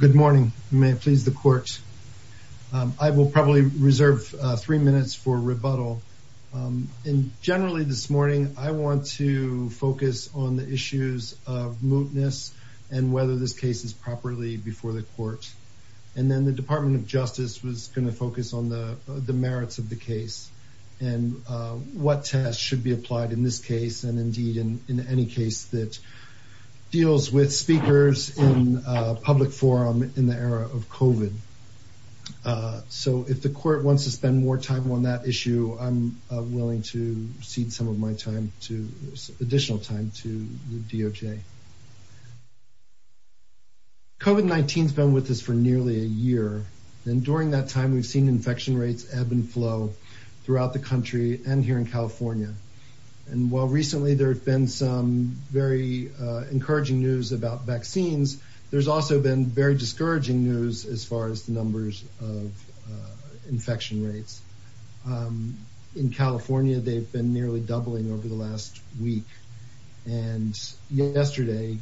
Good morning. May it please the court. I will probably reserve three minutes for rebuttal. Generally this morning I want to focus on the issues of mootness and whether this case is properly before the court and then the Department of Justice was going to focus on the merits of the case and what tests should be applied in this case and indeed in any case that deals with speakers in public forum in the era of COVID. So if the court wants to spend more time on that issue I'm willing to cede some of my time to additional time to the DOJ. COVID-19 has been with us for nearly a year and during that time we've seen infection rates ebb and flow throughout the country and here in California and while recently there have been some very encouraging news about vaccines there's also been very discouraging news as far as the numbers of infection rates. In California they've been nearly doubling over the last week and yesterday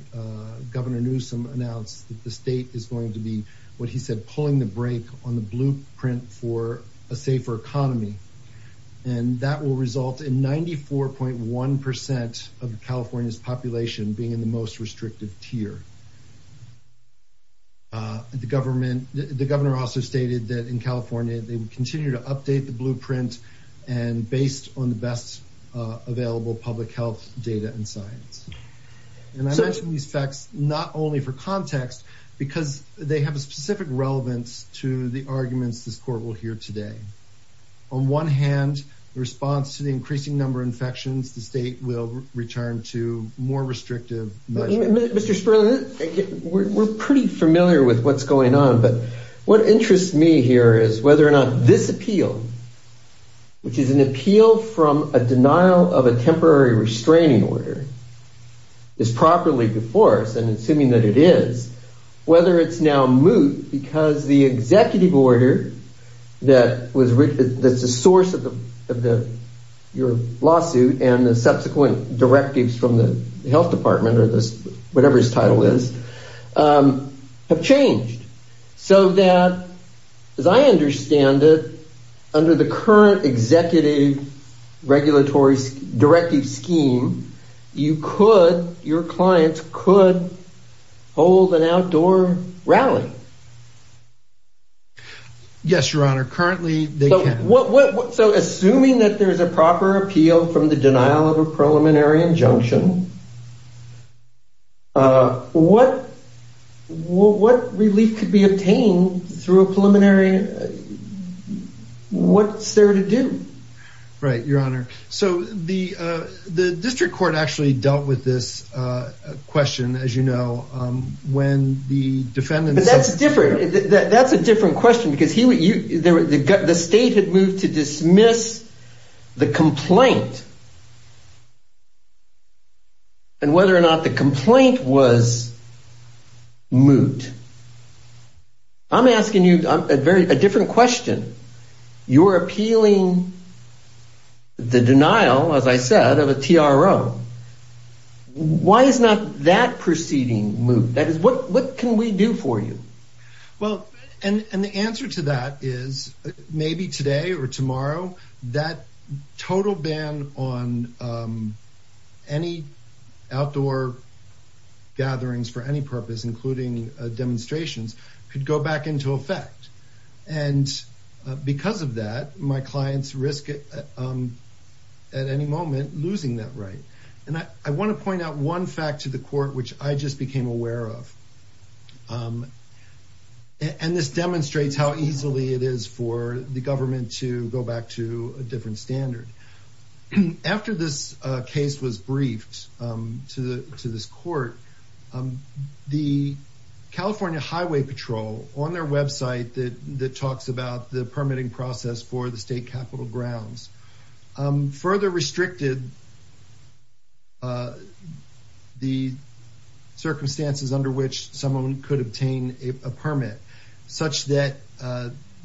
Governor Newsom announced that the state is going to be what he said pulling the brake on the blueprint for a safer economy and that will result in 94.1% of California's population being in the most restrictive tier. The governor also stated that in California they would continue to update the blueprint and based on the best available public health data and science and I mentioned these facts not only for context because they have a specific relevance to the arguments this court will hear today. On one hand the response to the increasing number of infections the state will return to more restrictive measures. Mr. Sperling we're pretty familiar with what's going on but what interests me here is whether or not this appeal which is an appeal from a denial of a temporary restraining order is properly before us and assuming that it is whether it's now moot because the executive order that was written that's the source of the of the your lawsuit and the subsequent directives from the health department or this whatever his title is have changed so that as I understand it under the current executive regulatory directive scheme you could your clients could hold an outdoor rally. Yes your honor currently they can. So assuming that there's a proper appeal from the denial of a preliminary injunction what what relief could be obtained through a preliminary what's there to do? Right your honor so the the district court actually dealt with this question as you know when the defendant. That's different that's a different question because he would you the state had moved to dismiss the complaint and whether or not the complaint was moot. I'm asking you I'm asking you a very a different question. You're appealing the denial as I said of a TRO. Why is not that proceeding moot? That is what what can we do for you? Well and and the answer to that is maybe today or tomorrow that total ban on any outdoor gatherings for any purpose including demonstrations could go back into effect and because of that my clients risk it at any moment losing that right and I want to point out one fact to the court which I just became aware of and this demonstrates how easily it is for the government to go back to a different standard. After this case was briefed to the to this court the California Highway Patrol on their website that that talks about the permitting process for the state capital grounds further restricted the circumstances under which someone could obtain a permit such that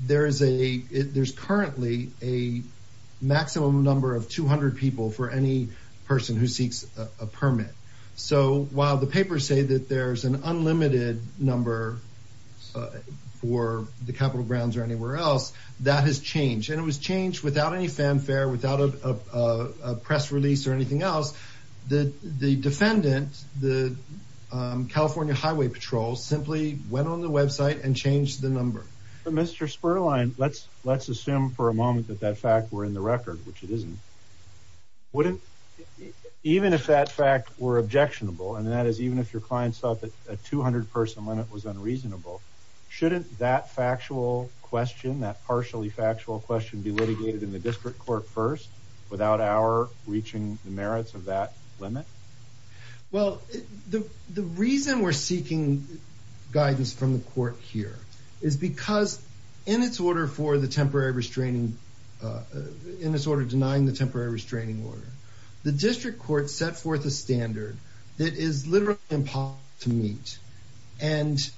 there is a there's currently a maximum number of 200 people for any person who seeks a permit. The papers say that there's an unlimited number for the capital grounds or anywhere else that has changed and it was changed without any fanfare without a press release or anything else that the defendant the California Highway Patrol simply went on the website and changed the number. Mr. Spurline let's let's assume for a moment that that fact were in the record which it isn't. Even if that fact were objectionable and that is even if your clients thought that a 200 person limit was unreasonable shouldn't that factual question that partially factual question be litigated in the district court first without our reaching the merits of that limit? Well the the reason we're seeking guidance from the court here is because in its order for the temporary restraining in the district court set forth a standard that is literally impossible to meet and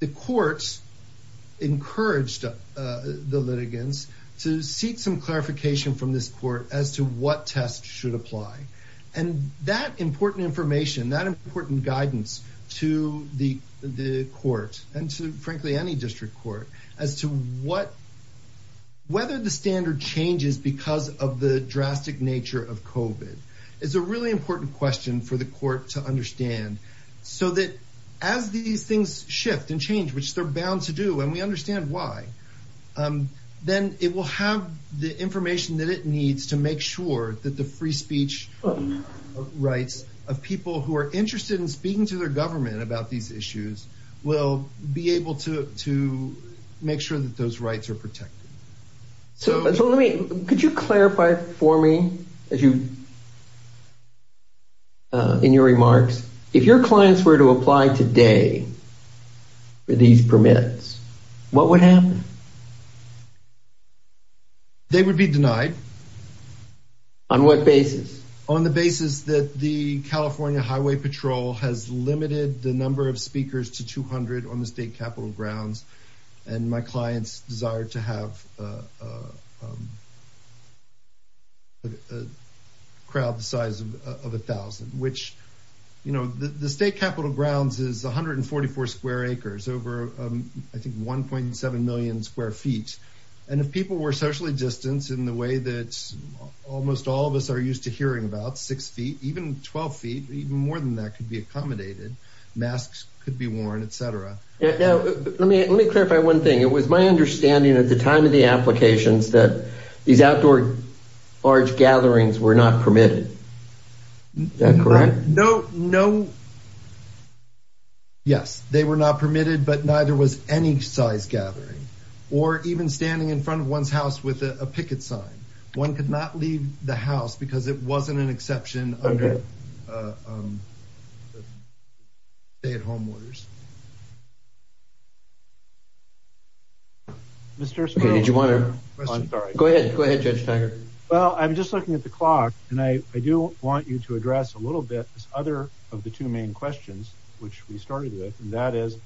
the courts encouraged the litigants to seek some clarification from this court as to what tests should apply and that important information that important guidance to the the court and to frankly any district court as to what whether the standard changes because of the drastic nature of COVID is a really important question for the court to understand so that as these things shift and change which they're bound to do and we understand why then it will have the information that it needs to make sure that the free speech rights of people who are interested in speaking to their government about these issues will be So let me, could you clarify for me as you in your remarks if your clients were to apply today for these permits what would happen? They would be denied. On what basis? On the basis that the California Highway Patrol has limited the number of speakers to 200 on the state capital grounds and my clients desire to have a crowd the size of a thousand which you know the state capital grounds is 144 square acres over I think 1.7 million square feet and if people were socially distanced in the way that almost all of us are used to hearing about six feet even 12 feet even more than that could be accommodated masks could be worn etc. Now let me clarify one thing it was my understanding at the time of the applications that these outdoor large gatherings were not permitted, is that correct? No no yes they were not permitted but neither was any size gathering or even standing in front of one's house with a picket sign one could not leave the house because it wasn't an exception under stay at home orders. Mr. Smith did you want to go ahead go ahead Judge Tiger. Well I'm just looking at the clock and I do want you to address a little bit this other of the two main questions which we started with and that is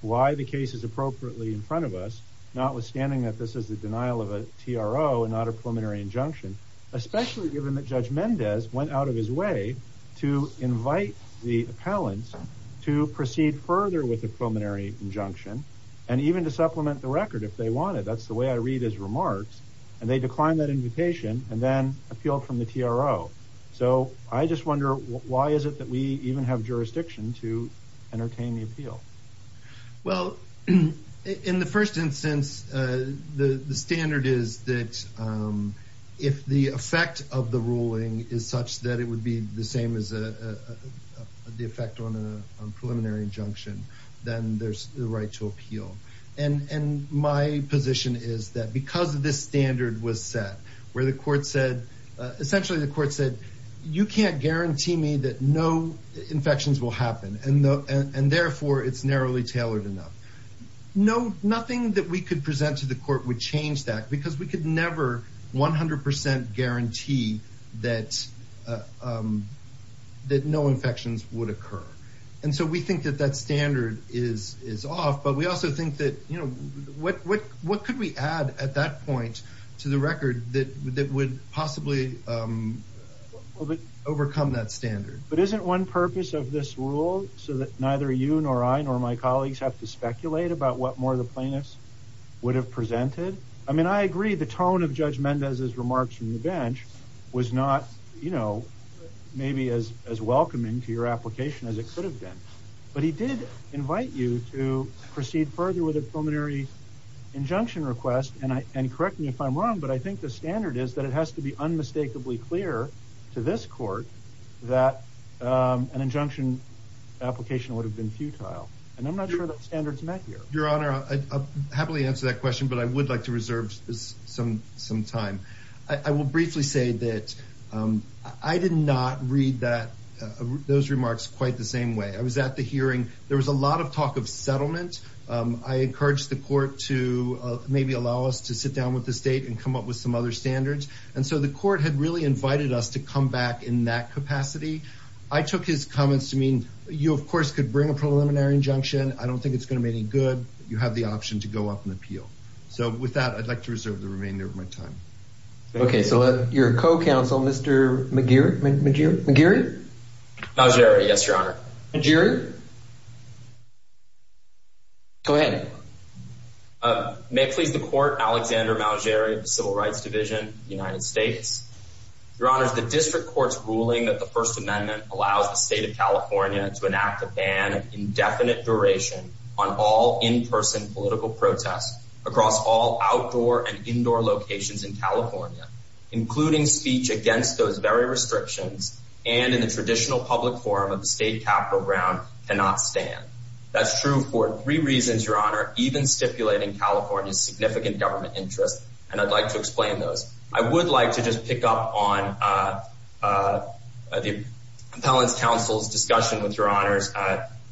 why the case is appropriately in front of us notwithstanding that this is the denial of a TRO and not a preliminary injunction especially given that Judge Mendez went out of his way to invite the appellants to proceed further with a preliminary injunction and even to supplement the record if they wanted that's the way I read his remarks and they declined that invitation and then appealed from the TRO. So I just wonder why is it that we even have jurisdiction to entertain the appeal? Well in the first instance the standard is that if the effect of the ruling is such that it would be the same as the effect on a preliminary injunction then there's the right to appeal and my position is that because of this standard was set where the court said essentially the court said you can't guarantee me that no infections will happen and therefore it's narrowly tailored enough. Nothing that we could present to the court would change that because we could never 100% guarantee that no infections would occur and so we think that that standard is off but we also think that you know what could we add at that point to the record that would possibly overcome that standard. But isn't one purpose of this rule so that neither you nor I nor my colleagues can speculate about what more the plaintiffs would have presented? I mean I agree the tone of Judge Mendez's remarks from the bench was not you know maybe as as welcoming to your application as it could have been but he did invite you to proceed further with a preliminary injunction request and correct me if I'm wrong but I think the standard is that it has to be unmistakably clear to this court that an injunction application would have been futile and I'm not sure that standard's met here. Your Honor I'd happily answer that question but I would like to reserve some some time. I will briefly say that I did not read that those remarks quite the same way. I was at the hearing there was a lot of talk of settlement. I encouraged the court to maybe allow us to sit down with the state and come up with some other standards and so the court had really invited us to come back in that capacity. I took his comments to mean you of course could bring a preliminary injunction. I don't think it's gonna be any good. You have the option to go up and appeal. So with that I'd like to reserve the remainder of my time. Okay so let your co-counsel Mr. McGeer McGeer McGeary? Yes, Your Honor. McGeary? Go ahead. May it please the court Alexander Mowgery, Civil Rights Division, United States. Your Honor, the district court's ruling that the First Amendment allows the state of California to enact a ban indefinite duration on all in-person political protests across all outdoor and indoor locations in California, including speech against those very restrictions and in the traditional public forum of the state cap program cannot stand. That's true for three reasons, Your Honor, even stipulating California's significant government interest and I'd like to explain those. I would like to just pick up on the appellant's counsel's discussion with Your Honors.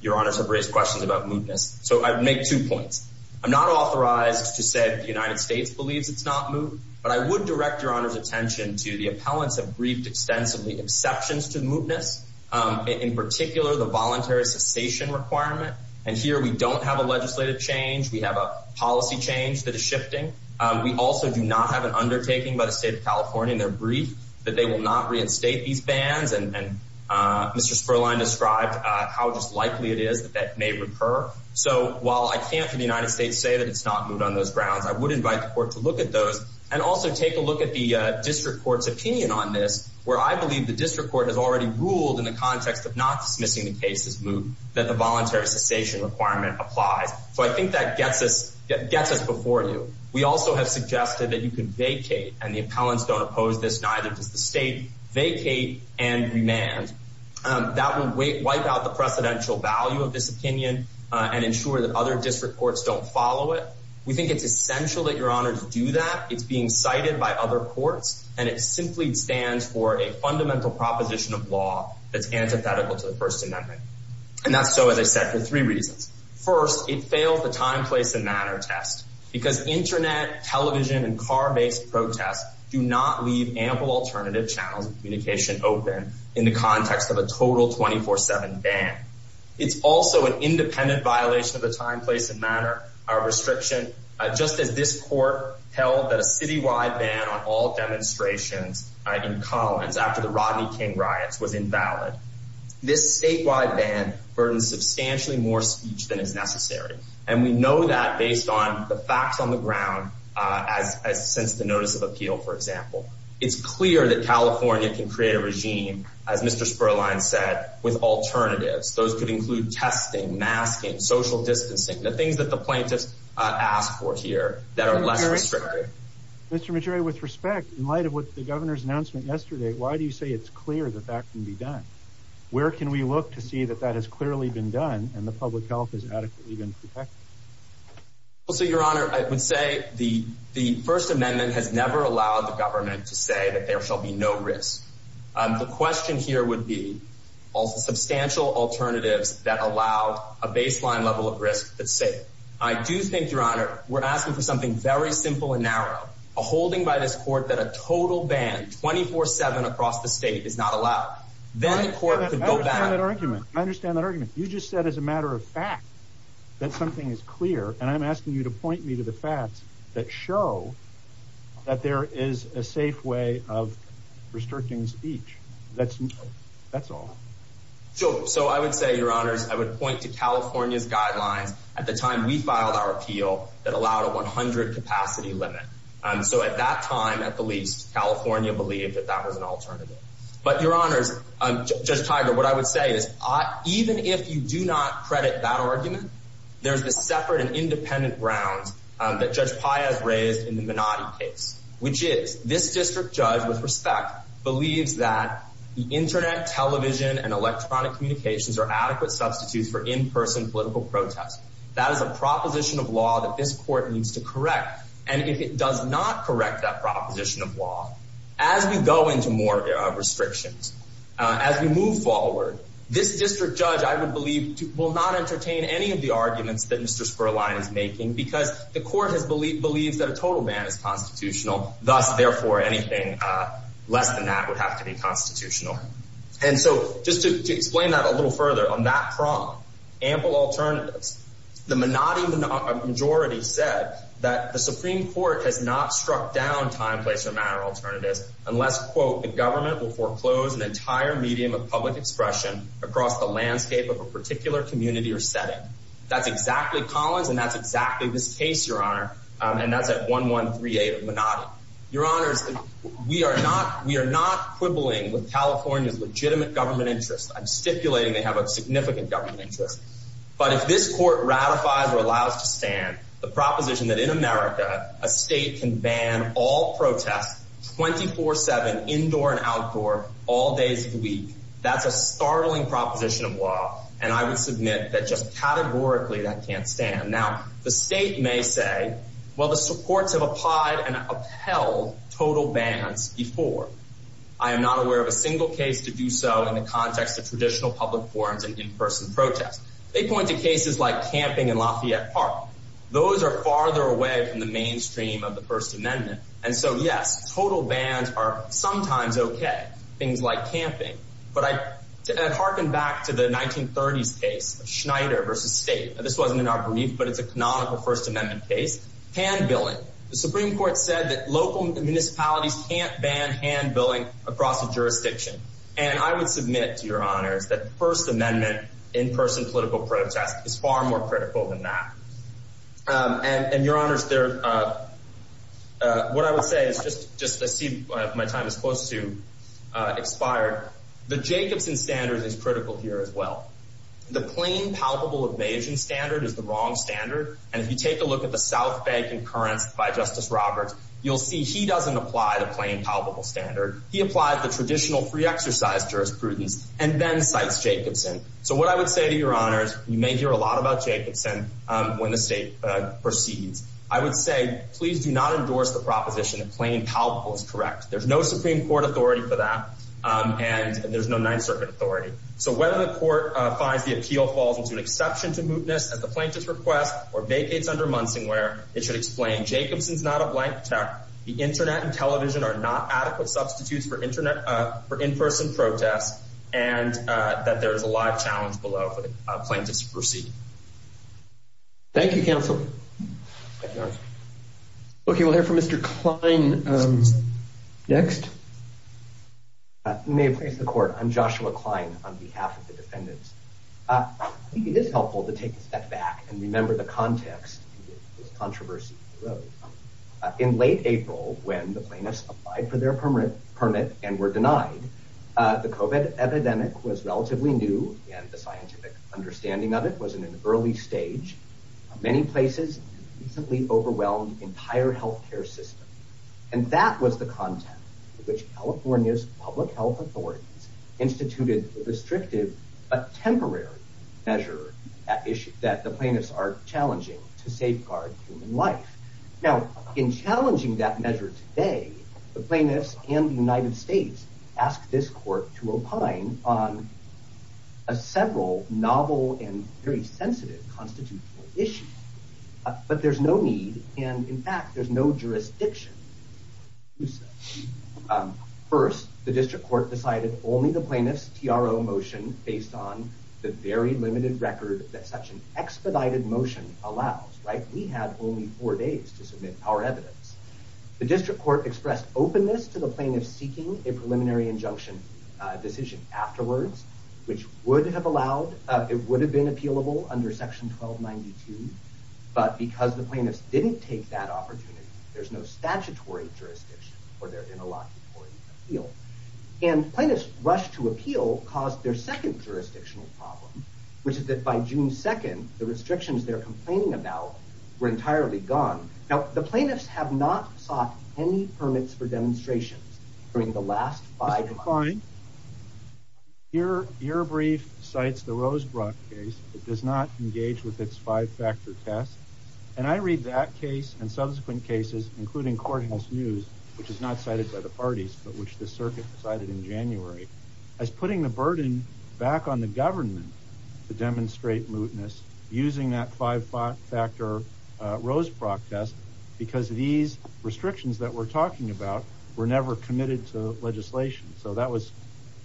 Your Honors have raised questions about mootness. So I'd make two points. I'm not authorized to say the United States believes it's not moot, but I would direct Your Honor's attention to the appellants have briefed extensively exceptions to mootness, in particular the voluntary cessation requirement. And here we don't have a legislative change. We have a policy change that is shifting. We also do not have an undertaking by the state of California in their brief that they will not reinstate these bans and Mr. Spurline described how just likely it is that that may recur. So while I can't for the United States say that it's not moot on those grounds, I would invite the court to look at those and also take a look at the district court's opinion on this, where I believe the district court has already ruled in the context of not dismissing the case as moot that the voluntary cessation requirement applies. So I think that gets us before you. We also have suggested that you can vacate and the vacate and remand that will wipe out the precedential value of this opinion and ensure that other district courts don't follow it. We think it's essential that your honor to do that. It's being cited by other courts, and it simply stands for a fundamental proposition of law that's antithetical to the First Amendment. And that's so, as I said, for three reasons. First, it failed the time, place and manner test because Internet, television and car based protests do not leave ample alternative channels of communication open in the context of a total 24 7 ban. It's also an independent violation of the time, place and manner. Our restriction, just as this court held that a city wide ban on all demonstrations in Collins after the Rodney King riots was invalid. This statewide ban burdens substantially more speech than is necessary, and we know that based on the facts on the ground as since the notice of appeal, for example, it's clear that California can create a regime, as Mr Spurline said, with alternatives. Those could include testing, masking, social distancing, the things that the plaintiffs asked for here that are less restrictive. Mr Majority. With respect, in light of what the governor's announcement yesterday, why do you say it's clear that that can be done? Where can we look to see that that has clearly been done? And the public health is adequately been protected. Also, Your Honor, I would say the the First Amendment has never allowed the government to say that there shall be no risk. The question here would be also substantial alternatives that allowed a baseline level of risk that say, I do think, Your Honor, we're asking for something very simple and narrow. Ah, holding by this court that a total ban 24 7 across the state is not allowed. Then the court could go that argument. I understand that you just said as a matter of fact that something is clear, and I'm asking you to point me to the facts that show that there is a safe way of restricting speech. That's that's all. So So I would say, Your Honors, I would point to California's guidelines at the time we filed our appeal that allowed a 100 capacity limit. So at that time, at the least, California believed that that was an alternative. But, Your Honors, just Tiger, what I would say is, even if you do not credit that argument, there's the separate and independent grounds that Judge Pi has raised in the Minotti case, which is this district judge, with respect, believes that the Internet, television and electronic communications are adequate substitutes for in person political protest. That is a proposition of law that this court needs to correct. And if it does not correct that proposition of law as we go into more restrictions as we move forward, this district judge, I would believe, will not entertain any of the arguments that Mr Sperline is making because the court has believed believes that a total man is constitutional. Thus, therefore, anything less than that would have to be constitutional. And so just to explain that a little further on that prong ample alternatives, the Minotti majority said that the Supreme Court has not struck down time, place or matter alternatives unless, quote, the government will foreclose an entire medium of public expression across the landscape of a particular community or setting. That's exactly Collins, and that's exactly this case, Your Honor. And that's at 1138 Minotti. Your honors, we are not. We're not quibbling with California's legitimate government interest. I'm stipulating they have a significant government interest. But if this court ratifies or allows to stand the proposition that in a state can ban all protest 24 7 indoor and outdoor all days of the week, that's a startling proposition of law. And I would submit that just categorically that can't stand now. The state may say, Well, the supports of applied and upheld total bans before. I am not aware of a single case to do so in the context of traditional public forums and in person protest. They point to the mainstream of the First Amendment. And so, yes, total bands are sometimes okay. Things like camping. But I harken back to the 19 thirties case Schneider versus state. This wasn't in our brief, but it's a canonical First Amendment case. Hand billing. The Supreme Court said that local municipalities can't ban hand billing across the jurisdiction. And I would submit to your honors that First Amendment in person political protest is far more critical than that on your honor's there. What I would say is just just my time is supposed to expire. The Jacobson standards is critical here as well. The plain palpable evasion standard is the wrong standard. And if you take a look at the South Bank and currents by Justice Roberts, you'll see he doesn't apply the plain palpable standard. He applied the traditional free exercise jurisprudence and then cites Jacobson. So what I would say to your honors, you may hear a lot about Jacobson when the state proceeds, I would say, Please do not endorse the proposition of plain palpable is correct. There's no Supreme Court authority for that, and there's no Ninth Circuit authority. So when the court finds the appeal falls into an exception to mootness at the plaintiff's request or vacates under Munson, where it should explain Jacobson's not a blank check. The Internet and television are not adequate substitutes for Internet for a lot of challenge below plaintiffs. Proceed. Thank you, Counsel. Okay, we'll hear from Mr Klein. Um, next may place the court on Joshua Klein on behalf of the defendants. Uh, it is helpful to take a step back and remember the context controversy in late April when the plaintiffs applied for their permit permit and were denied. The epidemic was relatively new, and the scientific understanding of it was in an early stage. Many places simply overwhelmed entire health care system, and that was the content which California's public health authorities instituted restrictive but temporary measure that issue that the plaintiffs are challenging to safeguard life. Now, in challenging that measure today, the court to opine on a several novel and very sensitive constitutional issue. But there's no need. And in fact, there's no jurisdiction. First, the district court decided only the plaintiff's T. R. O. Motion based on the very limited record that such an expedited motion allows, right? We had only four days to submit our evidence. The district court expressed openness to the plaintiff, seeking a preliminary injunction decision afterwards, which would have allowed it would have been appealable under section 12 92. But because the plaintiffs didn't take that opportunity, there's no statutory jurisdiction for their interlocking appeal. And plaintiffs rushed to appeal caused their second jurisdictional problem, which is that by June 2nd, the restrictions they're complaining about were entirely gone. Now, the plaintiffs have not sought any permits for demonstrations during the last five calling your your brief cites the Rosebrook case. It does not engage with its five factor test. And I read that case and subsequent cases, including courthouse news, which is not cited by the parties, but which the circuit decided in January as putting the burden back on the government to demonstrate mootness using that five factor Rosebrook test because these restrictions that we're talking about were never committed to legislation. So that was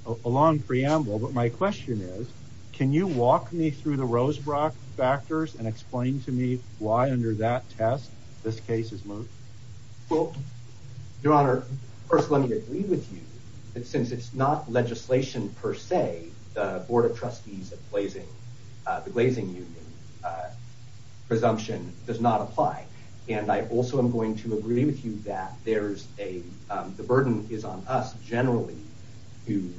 a long preamble. But my question is, can you walk me through the Rosebrook factors and explain to me why under that test this case is moved? Well, Your Honor, first, let me agree with you that since it's not legislation per se, the Board of Judges presumption does not apply. And I also am going to agree with you that there's a the burden is on us generally to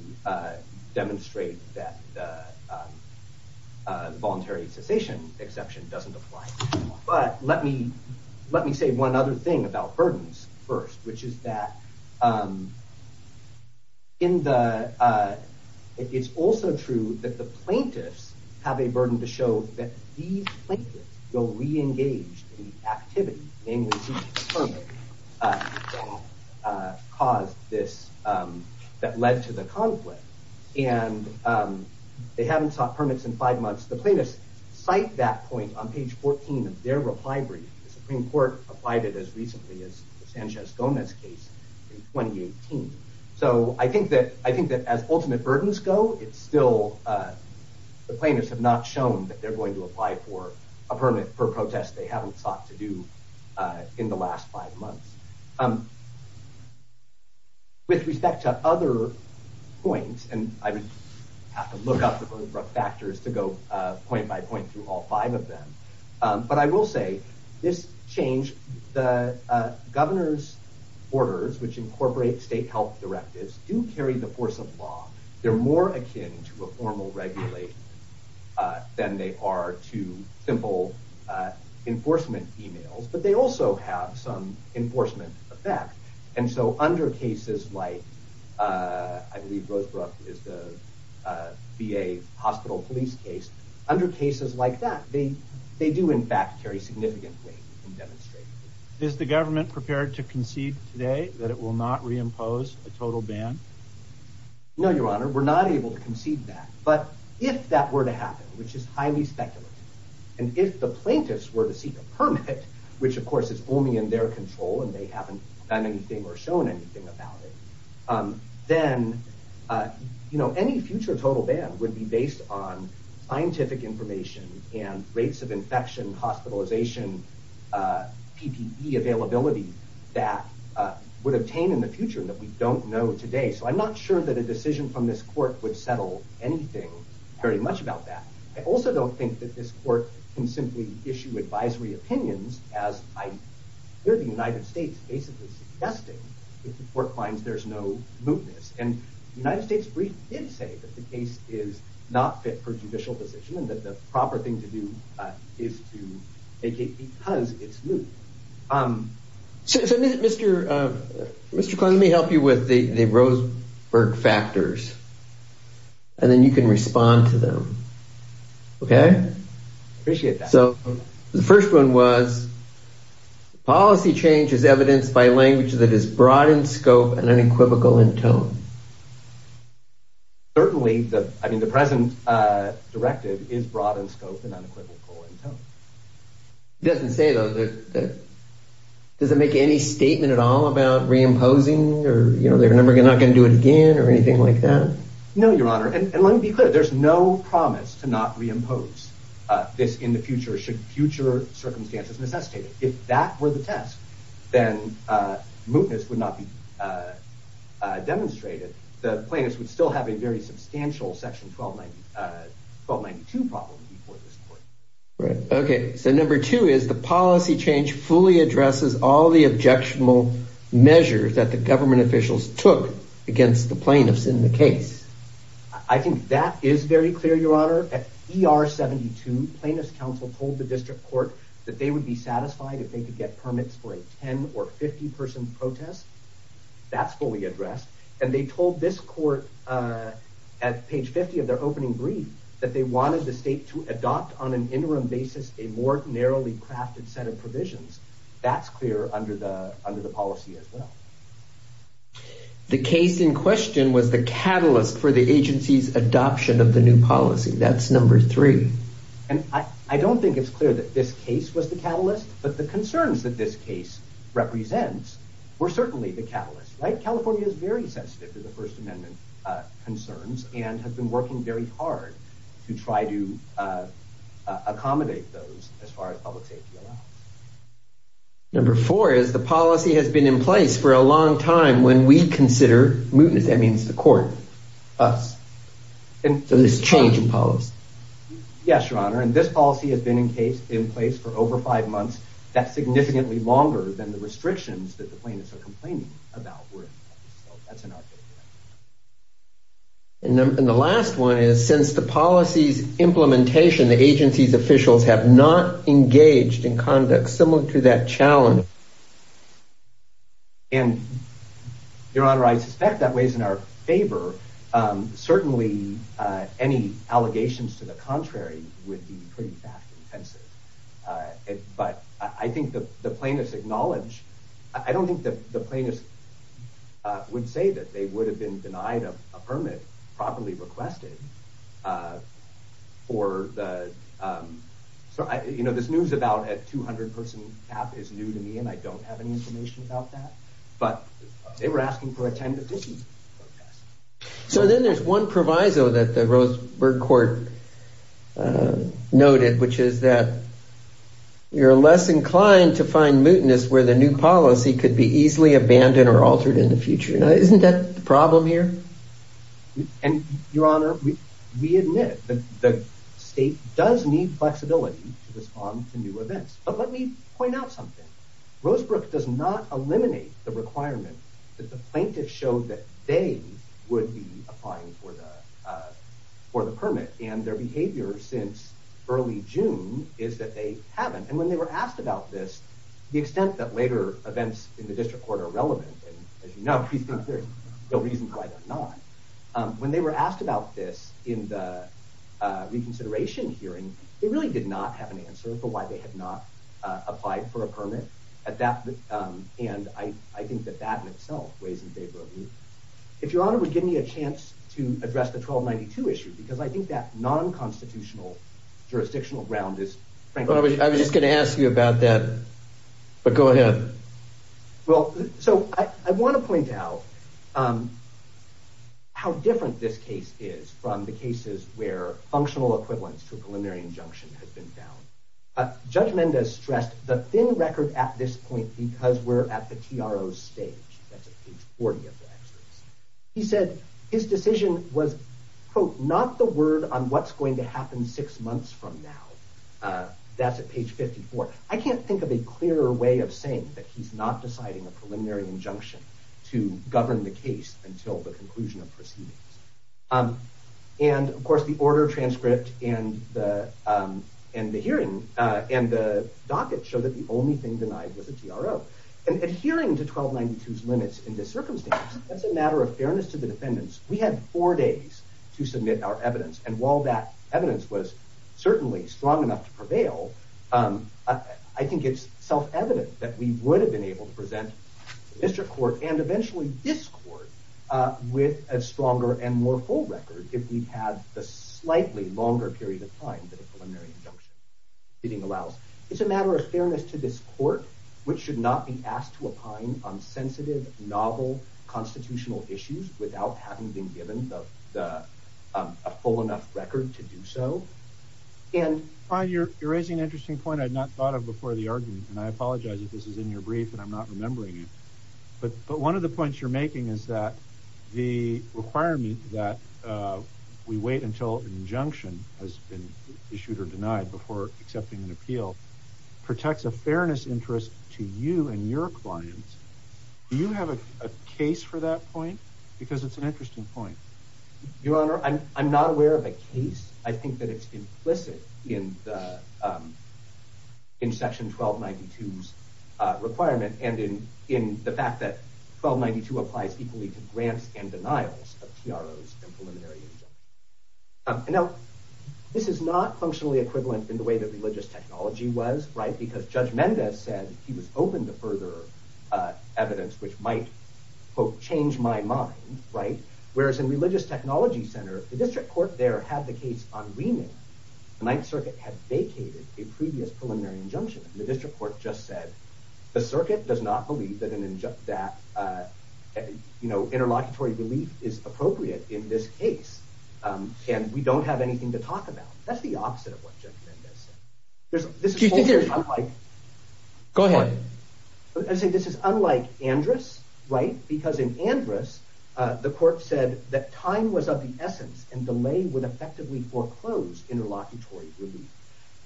demonstrate that voluntary cessation exception doesn't apply. But let me let me say one other thing about burdens first, which is that in the it's also true that the plaintiffs have a burden to show that these plaintiffs will re-engage in the activity, namely seeking a permit, that caused this, that led to the conflict. And they haven't sought permits in five months. The plaintiffs cite that point on page 14 of their reply brief. The Supreme Court applied it as recently as Sanchez-Gomez case in 2018. So I think that I think that as ultimate burdens go, it's still the plaintiffs have not shown that they're going to apply for a permit for protests they haven't sought to do in the last five months. With respect to other points, and I would have to look up the Rosebrook factors to go point by point through all of them, but I will say this change the governor's orders, which incorporate state health directives, do carry the force of law. They're more akin to a formal regulation than they are to simple enforcement emails, but they also have some enforcement effect. And so under cases like, I believe Rosebrook is the VA hospital police case, under cases like that, they do in fact carry significant weight. Is the government prepared to concede today that it will not reimpose a total ban? No, Your Honor, we're not able to concede that, but if that were to happen, which is highly speculative, and if the plaintiffs were to seek a permit, which of course is only in their control and they haven't done anything or shown anything about it, then, you know, any future total ban would be based on scientific information and rates of infection, hospitalization, PPE availability that would obtain in the future that we don't know today. So I'm not sure that a decision from this court would settle anything very much about that. I also don't think that this court can simply issue advisory opinions as I hear the United States basically suggesting that the court finds there's no mootness. And the United States brief did say that the case is not fit for judicial decision and that the proper thing to do is to vacate because it's moot. So Mr. Klein, let me help you with the Rosebrook factors and then you can policy change is evidenced by language that is broad in scope and unequivocal in tone. Certainly, I mean, the present directive is broad in scope and unequivocal in tone. It doesn't say though, does it make any statement at all about reimposing or, you know, they're not going to do it again or anything like that? No, Your Honor, and let me be clear, there's no promise to not reimpose this in the future, should future circumstances necessitate it. If that were the test, then mootness would not be demonstrated. The plaintiffs would still have a very substantial section 1292 problem before this court. Right. Okay. So number two is the policy change fully addresses all the objectionable measures that the government officials took against the plaintiffs in the case. I think that is very clear, Your Honor. At bar 72, plaintiffs counsel told the district court that they would be satisfied if they could get permits for a 10 or 50 person protest. That's fully addressed. And they told this court at page 50 of their opening brief that they wanted the state to adopt on an interim basis, a more narrowly crafted set of provisions. That's clear under the, under the policy as well. The case in question was the catalyst for the agency's adoption of the new policy. That's number three. And I don't think it's clear that this case was the catalyst, but the concerns that this case represents were certainly the catalyst. Right. California is very sensitive to the First Amendment concerns and has been working very hard to try to accommodate those as far as public safety allows. Number four is the policy has been in place for a long time when we consider mootness, that means the court, us. And so there's change in policy. Yes, Your Honor. And this policy has been in place for over five months. That's significantly longer than the restrictions that the plaintiffs are complaining about. And the last one is since the policy's implementation, the agency's officials have not engaged in conduct similar to that challenge. And Your Honor, I suspect that weighs in our favor. Certainly any allegations to the contrary would be pretty fact-intensive. But I think that the plaintiffs acknowledge, I don't think that the plaintiffs would say that they would have been denied a permit properly requested for the, you know, this news about a 200-person cap is new to me and I don't have any information about that. But they were asking for a 10-person cap. So then there's one proviso that the Rosenberg court noted, which is that you're less inclined to find mootness where the new policy could be easily abandoned or altered in the future. Now, isn't that the problem here? And Your Honor, we admit that the state does need flexibility to respond to new events. But let me point out something. Rosebrook does not eliminate the requirement that the plaintiffs show that they would be applying for the permit. And their behavior since early June is that they haven't. And when they were asked about this, the extent that later events in the district court are not, when they were asked about this in the reconsideration hearing, they really did not have an answer for why they had not applied for a permit at that. And I think that that in itself weighs in favor of moot. If Your Honor would give me a chance to address the 1292 issue, because I think that non-constitutional jurisdictional ground is frankly... I was just going to ask you about that, but go ahead. Well, so I want to point out how different this case is from the cases where functional equivalence to a preliminary injunction has been found. Judge Mendez stressed the thin record at this point because we're at the TRO stage. That's at page 40 of the exodus. He said his decision was, quote, not the word on what's going to happen six months from now. That's at page 54. I can't think of a case that he's not deciding a preliminary injunction to govern the case until the conclusion of proceedings. And, of course, the order transcript and the hearing and the docket show that the only thing denied was a TRO. And adhering to 1292's limits in this circumstance, that's a matter of fairness to the defendants. We had four days to submit our evidence, and while that evidence was certainly strong enough to prevail, I think it's self-evident that we would have been able to present the district court, and eventually this court, with a stronger and more full record if we'd had the slightly longer period of time that a preliminary injunction meeting allows. It's a matter of fairness to this court, which should not be asked to opine on sensitive, novel constitutional issues without having been You're raising an interesting point I had not thought of before the argument, and I apologize if this is in your brief and I'm not remembering it. But one of the points you're making is that the requirement that we wait until an injunction has been issued or denied before accepting an appeal protects a fairness interest to you and your clients. Do you have a case for that point? Because it's an interesting point. Your Honor, I'm not aware of a case. I think that it's implicit in Section 1292's requirement, and in the fact that 1292 applies equally to grants and denials of PROs and preliminary injunctions. Now, this is not functionally equivalent in the way that religious technology was, because Judge Mendez said he was open to further evidence which might, quote, change my mind, right? Whereas in religious technology center, the district court there had the case on remand. The Ninth Circuit had vacated a previous preliminary injunction. The district court just said the circuit does not believe that an injunct that, you know, interlocutory relief is appropriate in this case. And we don't have anything to talk about. That's the opposite of what Unlike Andrus, right? Because in Andrus, the court said that time was of the essence and delay would effectively foreclose interlocutory relief.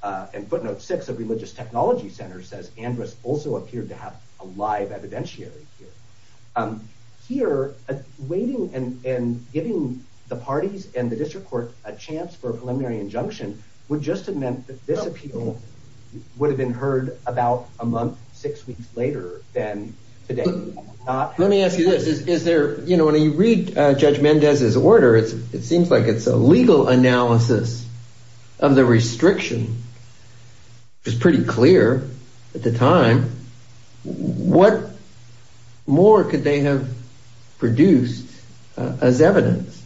And footnote six of religious technology center says Andrus also appeared to have a live evidentiary here. Here, waiting and giving the parties and the district court a chance for preliminary injunction would just have meant that this appeal would have been heard about a month, six weeks later than today. Let me ask you this. Is there, you know, when you read Judge Mendez's order, it seems like it's a legal analysis of the restriction. It's pretty clear at the time. What more could they have produced as evidence?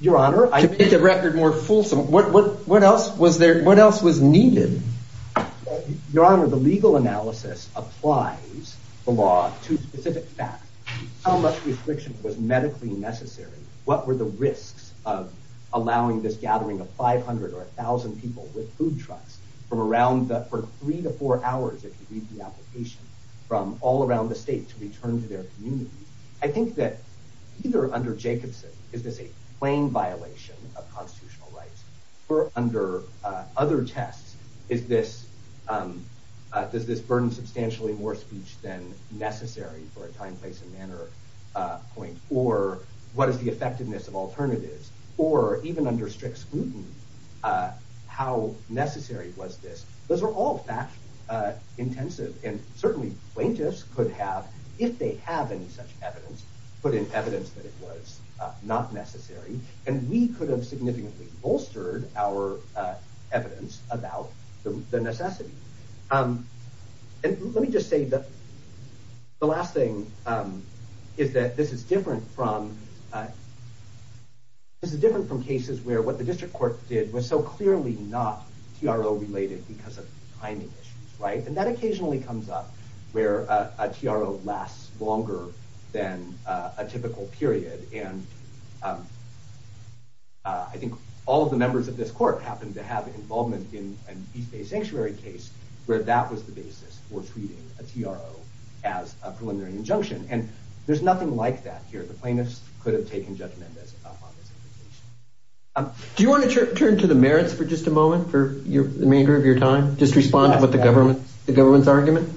Your Honor, I think the record more fulsome. What what else was there? What else was needed? Your Honor, the legal analysis applies the law to specific fact. How much restriction was medically necessary? What were the risks of allowing this gathering of 500 or 1000 people with food trucks from around for three to four hours? If you read the application from all around the state to return to their community, I think that either under Jacobson, is this a plain violation of constitutional rights? We're under other tests. Is this, um, does this burden substantially more speech than necessary for a time, place and manner point? Or what is the effectiveness of alternatives? Or even under strict scrutiny? Uh, how necessary was this? Those were all back intensive and certainly plaintiffs could have, if they have any such evidence, put in evidence that it was not necessary. And we could have significantly bolstered our evidence about the necessity. Um, and let me just say that the last thing is that this is different from, uh, this is different from cases where what the district court did was so clearly not TRO related because of timing issues, right? And that occasionally comes up where a TRO lasts longer than a typical period. And, um, uh, I think all of the members of this court happened to have involvement in an East Bay Sanctuary case where that was the basis for treating a TRO as a preliminary injunction. And there's nothing like that here. The plaintiffs could have taken judgment as upon this application. Um, do you want to turn to the merits for just a moment for your remainder of your time? Just respond to what the government, the government's argument.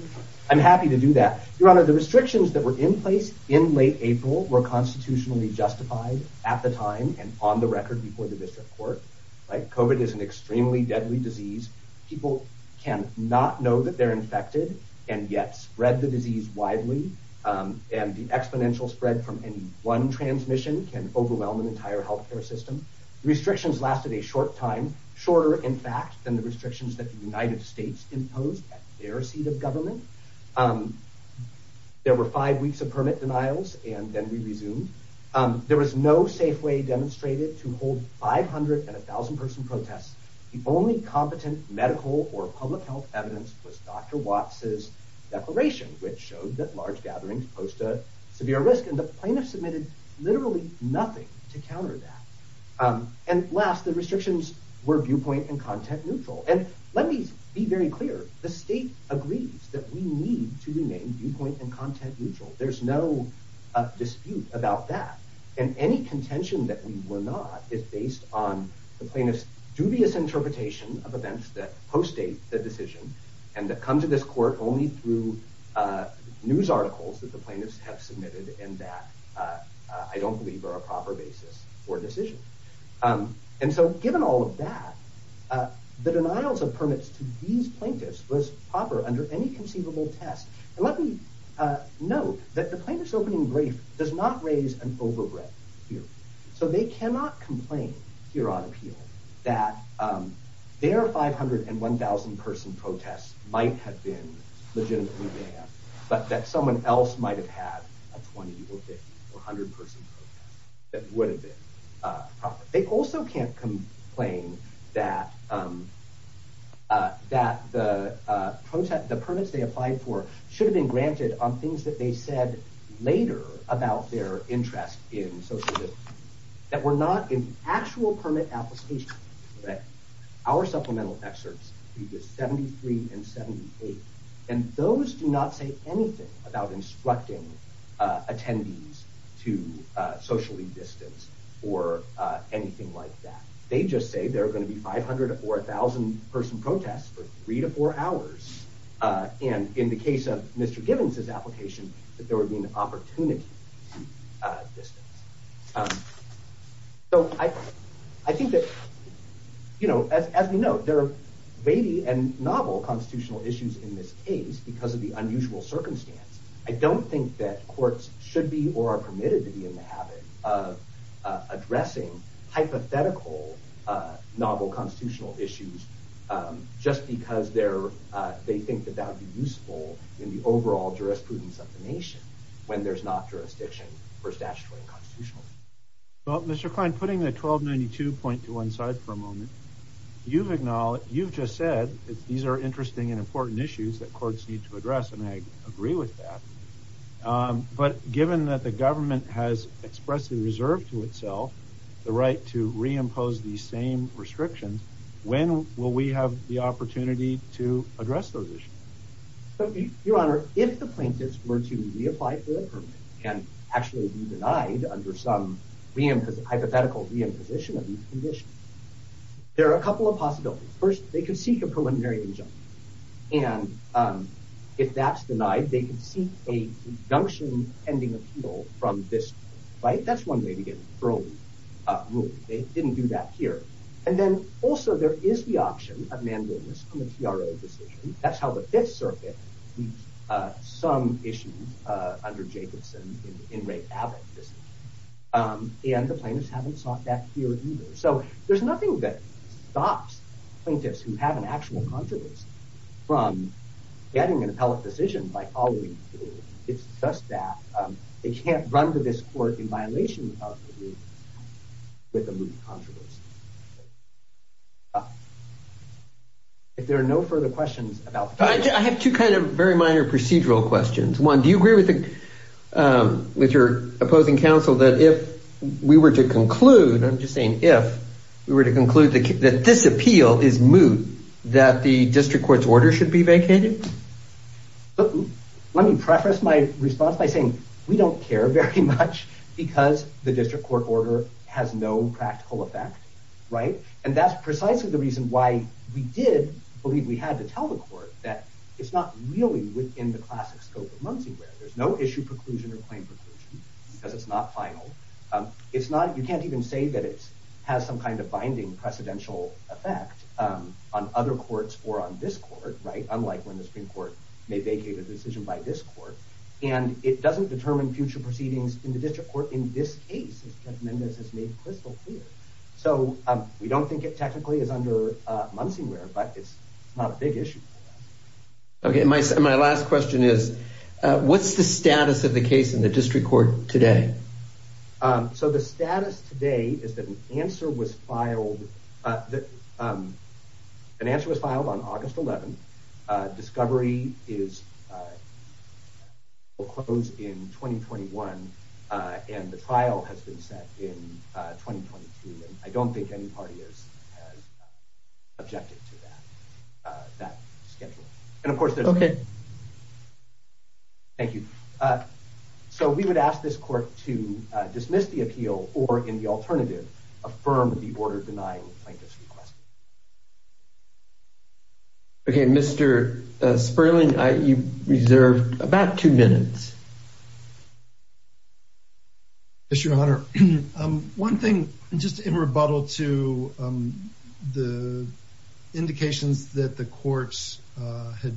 I'm happy to do that. Your honor, the restrictions that were in place in late April were constitutionally justified at the time and on the record before the district court, like COVID is an extremely deadly disease. People can not know that they're infected and yet spread the disease widely. Um, and the exponential spread from any one transmission can overwhelm an entire health care system. Restrictions lasted a short time, shorter, in fact, than the restrictions that the United States imposed their seat of government. Um, there were five weeks of permit denials and then we resumed. Um, there was no safe way demonstrated to hold 500 and a thousand person protests. The only competent medical or public health evidence was Dr. Watts's declaration, which showed that large gatherings post a severe risk. And the plaintiffs submitted literally nothing to counter that. Um, and last, the restrictions were viewpoint and content neutral. And let me be very clear. The state agrees that we need to remain viewpoint and content neutral. There's no dispute about that. And any contention that we were not is based on the plaintiff's dubious interpretation of events that post a decision and that come to this court only through, uh, news articles that the plaintiffs have submitted. And that, uh, I don't believe are a proper basis for decision. Um, and so given all of that, uh, the denials of permits to these plaintiffs was proper under any conceivable test. And let me, uh, note that the plaintiff's opening brief does not raise an overbreak here. So they cannot complain here on appeal that, um, there are 501,000 person protests might have been legitimately banned, but that someone else might have had a 20 or 50 or a hundred person that would have been, uh, they also can't complain that, um, uh, that the, uh, the permits they applied for should have been granted on things that they said later about their interest in social that we're not in actual permit application. Our supplemental excerpts 73 and 78, and those do not say anything about instructing, uh, attendees to, uh, socially distance or, uh, anything like that. They just say there are going to be 500 or a thousand person protests for three to four hours. Uh, and in the case of Mr. Gibbons, his application, that there would be an opportunity, uh, distance. Um, so I, I think that, you know, as, as we know, there are baby and novel constitutional issues in this case, because of the unusual circumstance, I don't think that courts should be, or are permitted to be in the habit of, uh, addressing hypothetical, uh, novel constitutional issues. Um, just because they're, uh, they think that that would be useful in the overall jurisprudence of the nation when there's not jurisdiction for statutory and constitutional. Well, Mr. Klein, putting the 1292 point to one side for a moment, you've acknowledged, you've just said that these are interesting and important issues that courts need to address. And I agree with that. Um, but given that the government has expressly reserved to itself, the right to reimpose the same restrictions, when will we have the opportunity to address those issues? But your honor, if the plaintiffs were to reapply for the permit and actually be denied under some re-imposed hypothetical re-imposition of these conditions, there are a couple of possibilities. First, they could seek a preliminary injunction. And, um, if that's denied, they could seek a injunction pending appeal from this court, right? That's one way to get parole, uh, ruled. They didn't do that here. And then also there is the option of mandolins on the TRO decision. That's how the fifth circuit, uh, some issues, uh, under Jacobson in Ray Abbott, um, and the plaintiffs haven't sought that here either. So there's nothing that stops plaintiffs who have an actual contrivance from getting an appellate decision by following it's staff. Um, they can't run to this court in violation of the rules with a moot contrivance. If there are no further questions about... I have two kind of very minor procedural questions. One, do you agree with the, um, with your opposing counsel that if we were to conclude, I'm just saying, if we were to conclude that this appeal is moot, that the district court's order should be vacated? Let me preface my response by saying we don't care very much because the district court order has no practical effect. Right? And that's precisely the reason why we did believe we had to tell the court that it's not really within the classic scope of Muncie where there's no issue preclusion or claim preclusion because it's not final. Um, it's not, you can't even say that it has some kind of binding precedential effect, um, on other courts or on this court, right? Unlike when the Supreme Court may vacate a decision by this court and it doesn't determine future proceedings in the district court. In this case, as Judge Mendez has made crystal clear. So, um, we don't think it technically is under, uh, Muncie where, but it's not a big issue. Okay. My, my last question is, uh, what's the status of the case in the district court today? Um, so the status today is that an answer was filed. Uh, um, an answer was filed on August 11th. Uh, discovery is, uh, we'll close in 2021. Uh, and the trial has been set in 2022. And I don't think any party is objective to that, uh, that schedule. And of course, there's okay. Thank you. Uh, so we would ask this court to dismiss the appeal or in the order of denying plaintiff's request. Okay. Mr. Sperling, you reserved about two minutes. Yes, your honor. Um, one thing just in rebuttal to, um, the indications that the courts, uh, had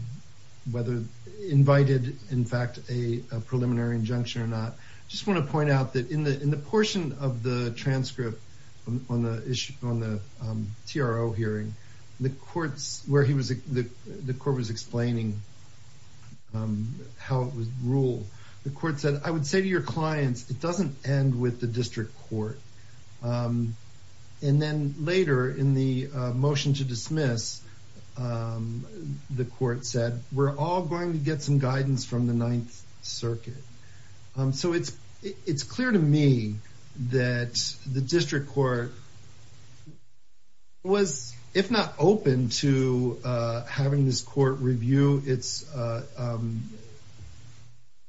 whether invited in fact, a preliminary injunction or not. Just want to point out that in the, in the portion of the transcript on the issue, on the, um, TRO hearing the courts where he was, the court was explaining, um, how it was ruled. The court said, I would say to your clients, it doesn't end with the district court. Um, and then later in the motion to dismiss, um, the court said, we're all going to get some guidance from the district court. So it's, it's clear to me that the district court was, if not open to, uh, having this court review, it's, uh, um,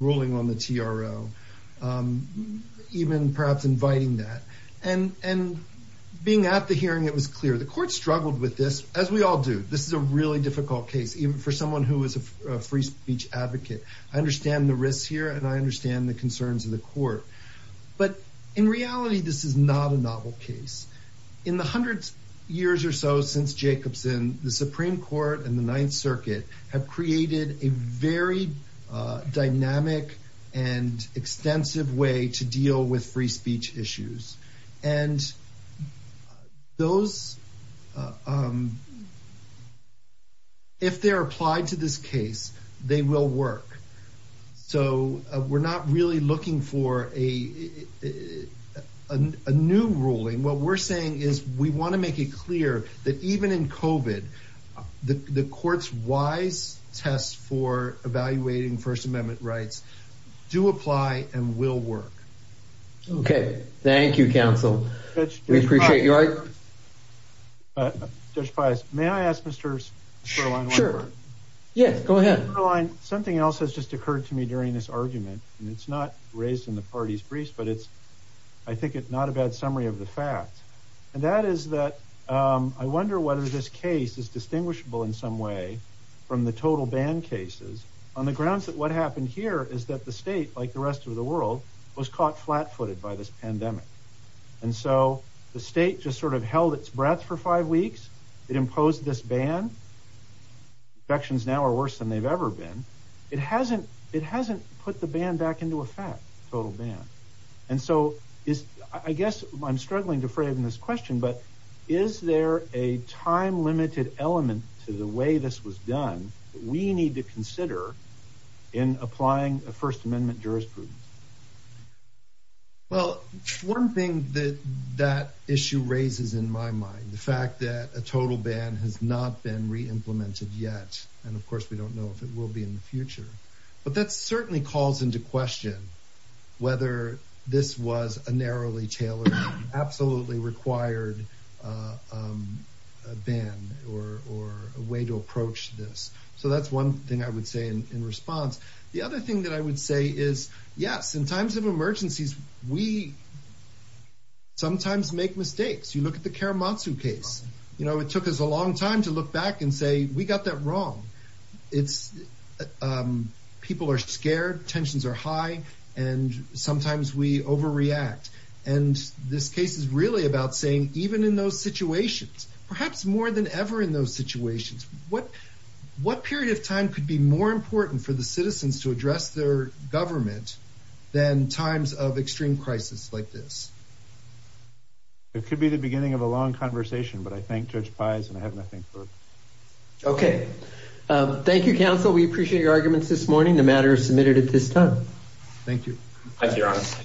ruling on the TRO, um, even perhaps inviting that and, and being at the hearing, it was clear the court struggled with this as we all do. This is a really difficult case, even for someone who is a free speech advocate. I understand the risks here and I understand the concerns of the court, but in reality, this is not a novel case. In the hundreds years or so since Jacobson, the Supreme Court and the Ninth Circuit have created a very, uh, dynamic and extensive way to deal with free speech issues. And those, um, if they're applied to this case, they will work. So, uh, we're not really looking for a, a new ruling. What we're saying is we want to make it clear that even in COVID, the court's wise test for evaluating first amendment rights do apply and will work. Okay. Thank you, counsel. We appreciate you. Judge Pius, may I ask Mr. Stirling one question? Yes, go ahead. Something else has just occurred to me during this argument, and it's not raised in the parties briefs, but it's, I think it's not a bad summary of the facts and that is that, um, I wonder whether this case is distinguishable in some way from the total ban cases on the grounds that what happened here is that the state, like the rest of the world was caught flat footed by this pandemic. And so the state just sort of held its breath for five weeks. It imposed this ban sections now are worse than they've ever been. It hasn't, it hasn't put the band back into effect total ban. And so is, I guess I'm struggling to frame this question, but is there a time limited element to the way this was done? We need to consider in applying a first amendment jurisprudence. Well, one thing that that issue raises in my mind, the fact that a total ban has not been re-implemented yet. And of course we don't know if it will be in the future, but that's certainly calls into question whether this was a narrowly tailored, absolutely required, um, a ban or, or a way to approach this. So that's one thing I would say in response. The other thing that I would say is yes, in times of emergencies, we sometimes make mistakes. You look at the Karamatsu case, you know, it took us a long time to look back and say, we got that wrong. It's, um, people are scared, tensions are high, and sometimes we overreact. And this case is really about saying, even in those situations, perhaps more than ever in those situations, what, what period of time could be more important for the citizens to address their government than times of extreme crisis like this? It could be the beginning of a long conversation, but I thank Judge Pies and I have nothing further. Okay. Um, thank you, counsel. We appreciate your arguments this morning. The matter is submitted at this time. Thank you. Thank you, Your Honor.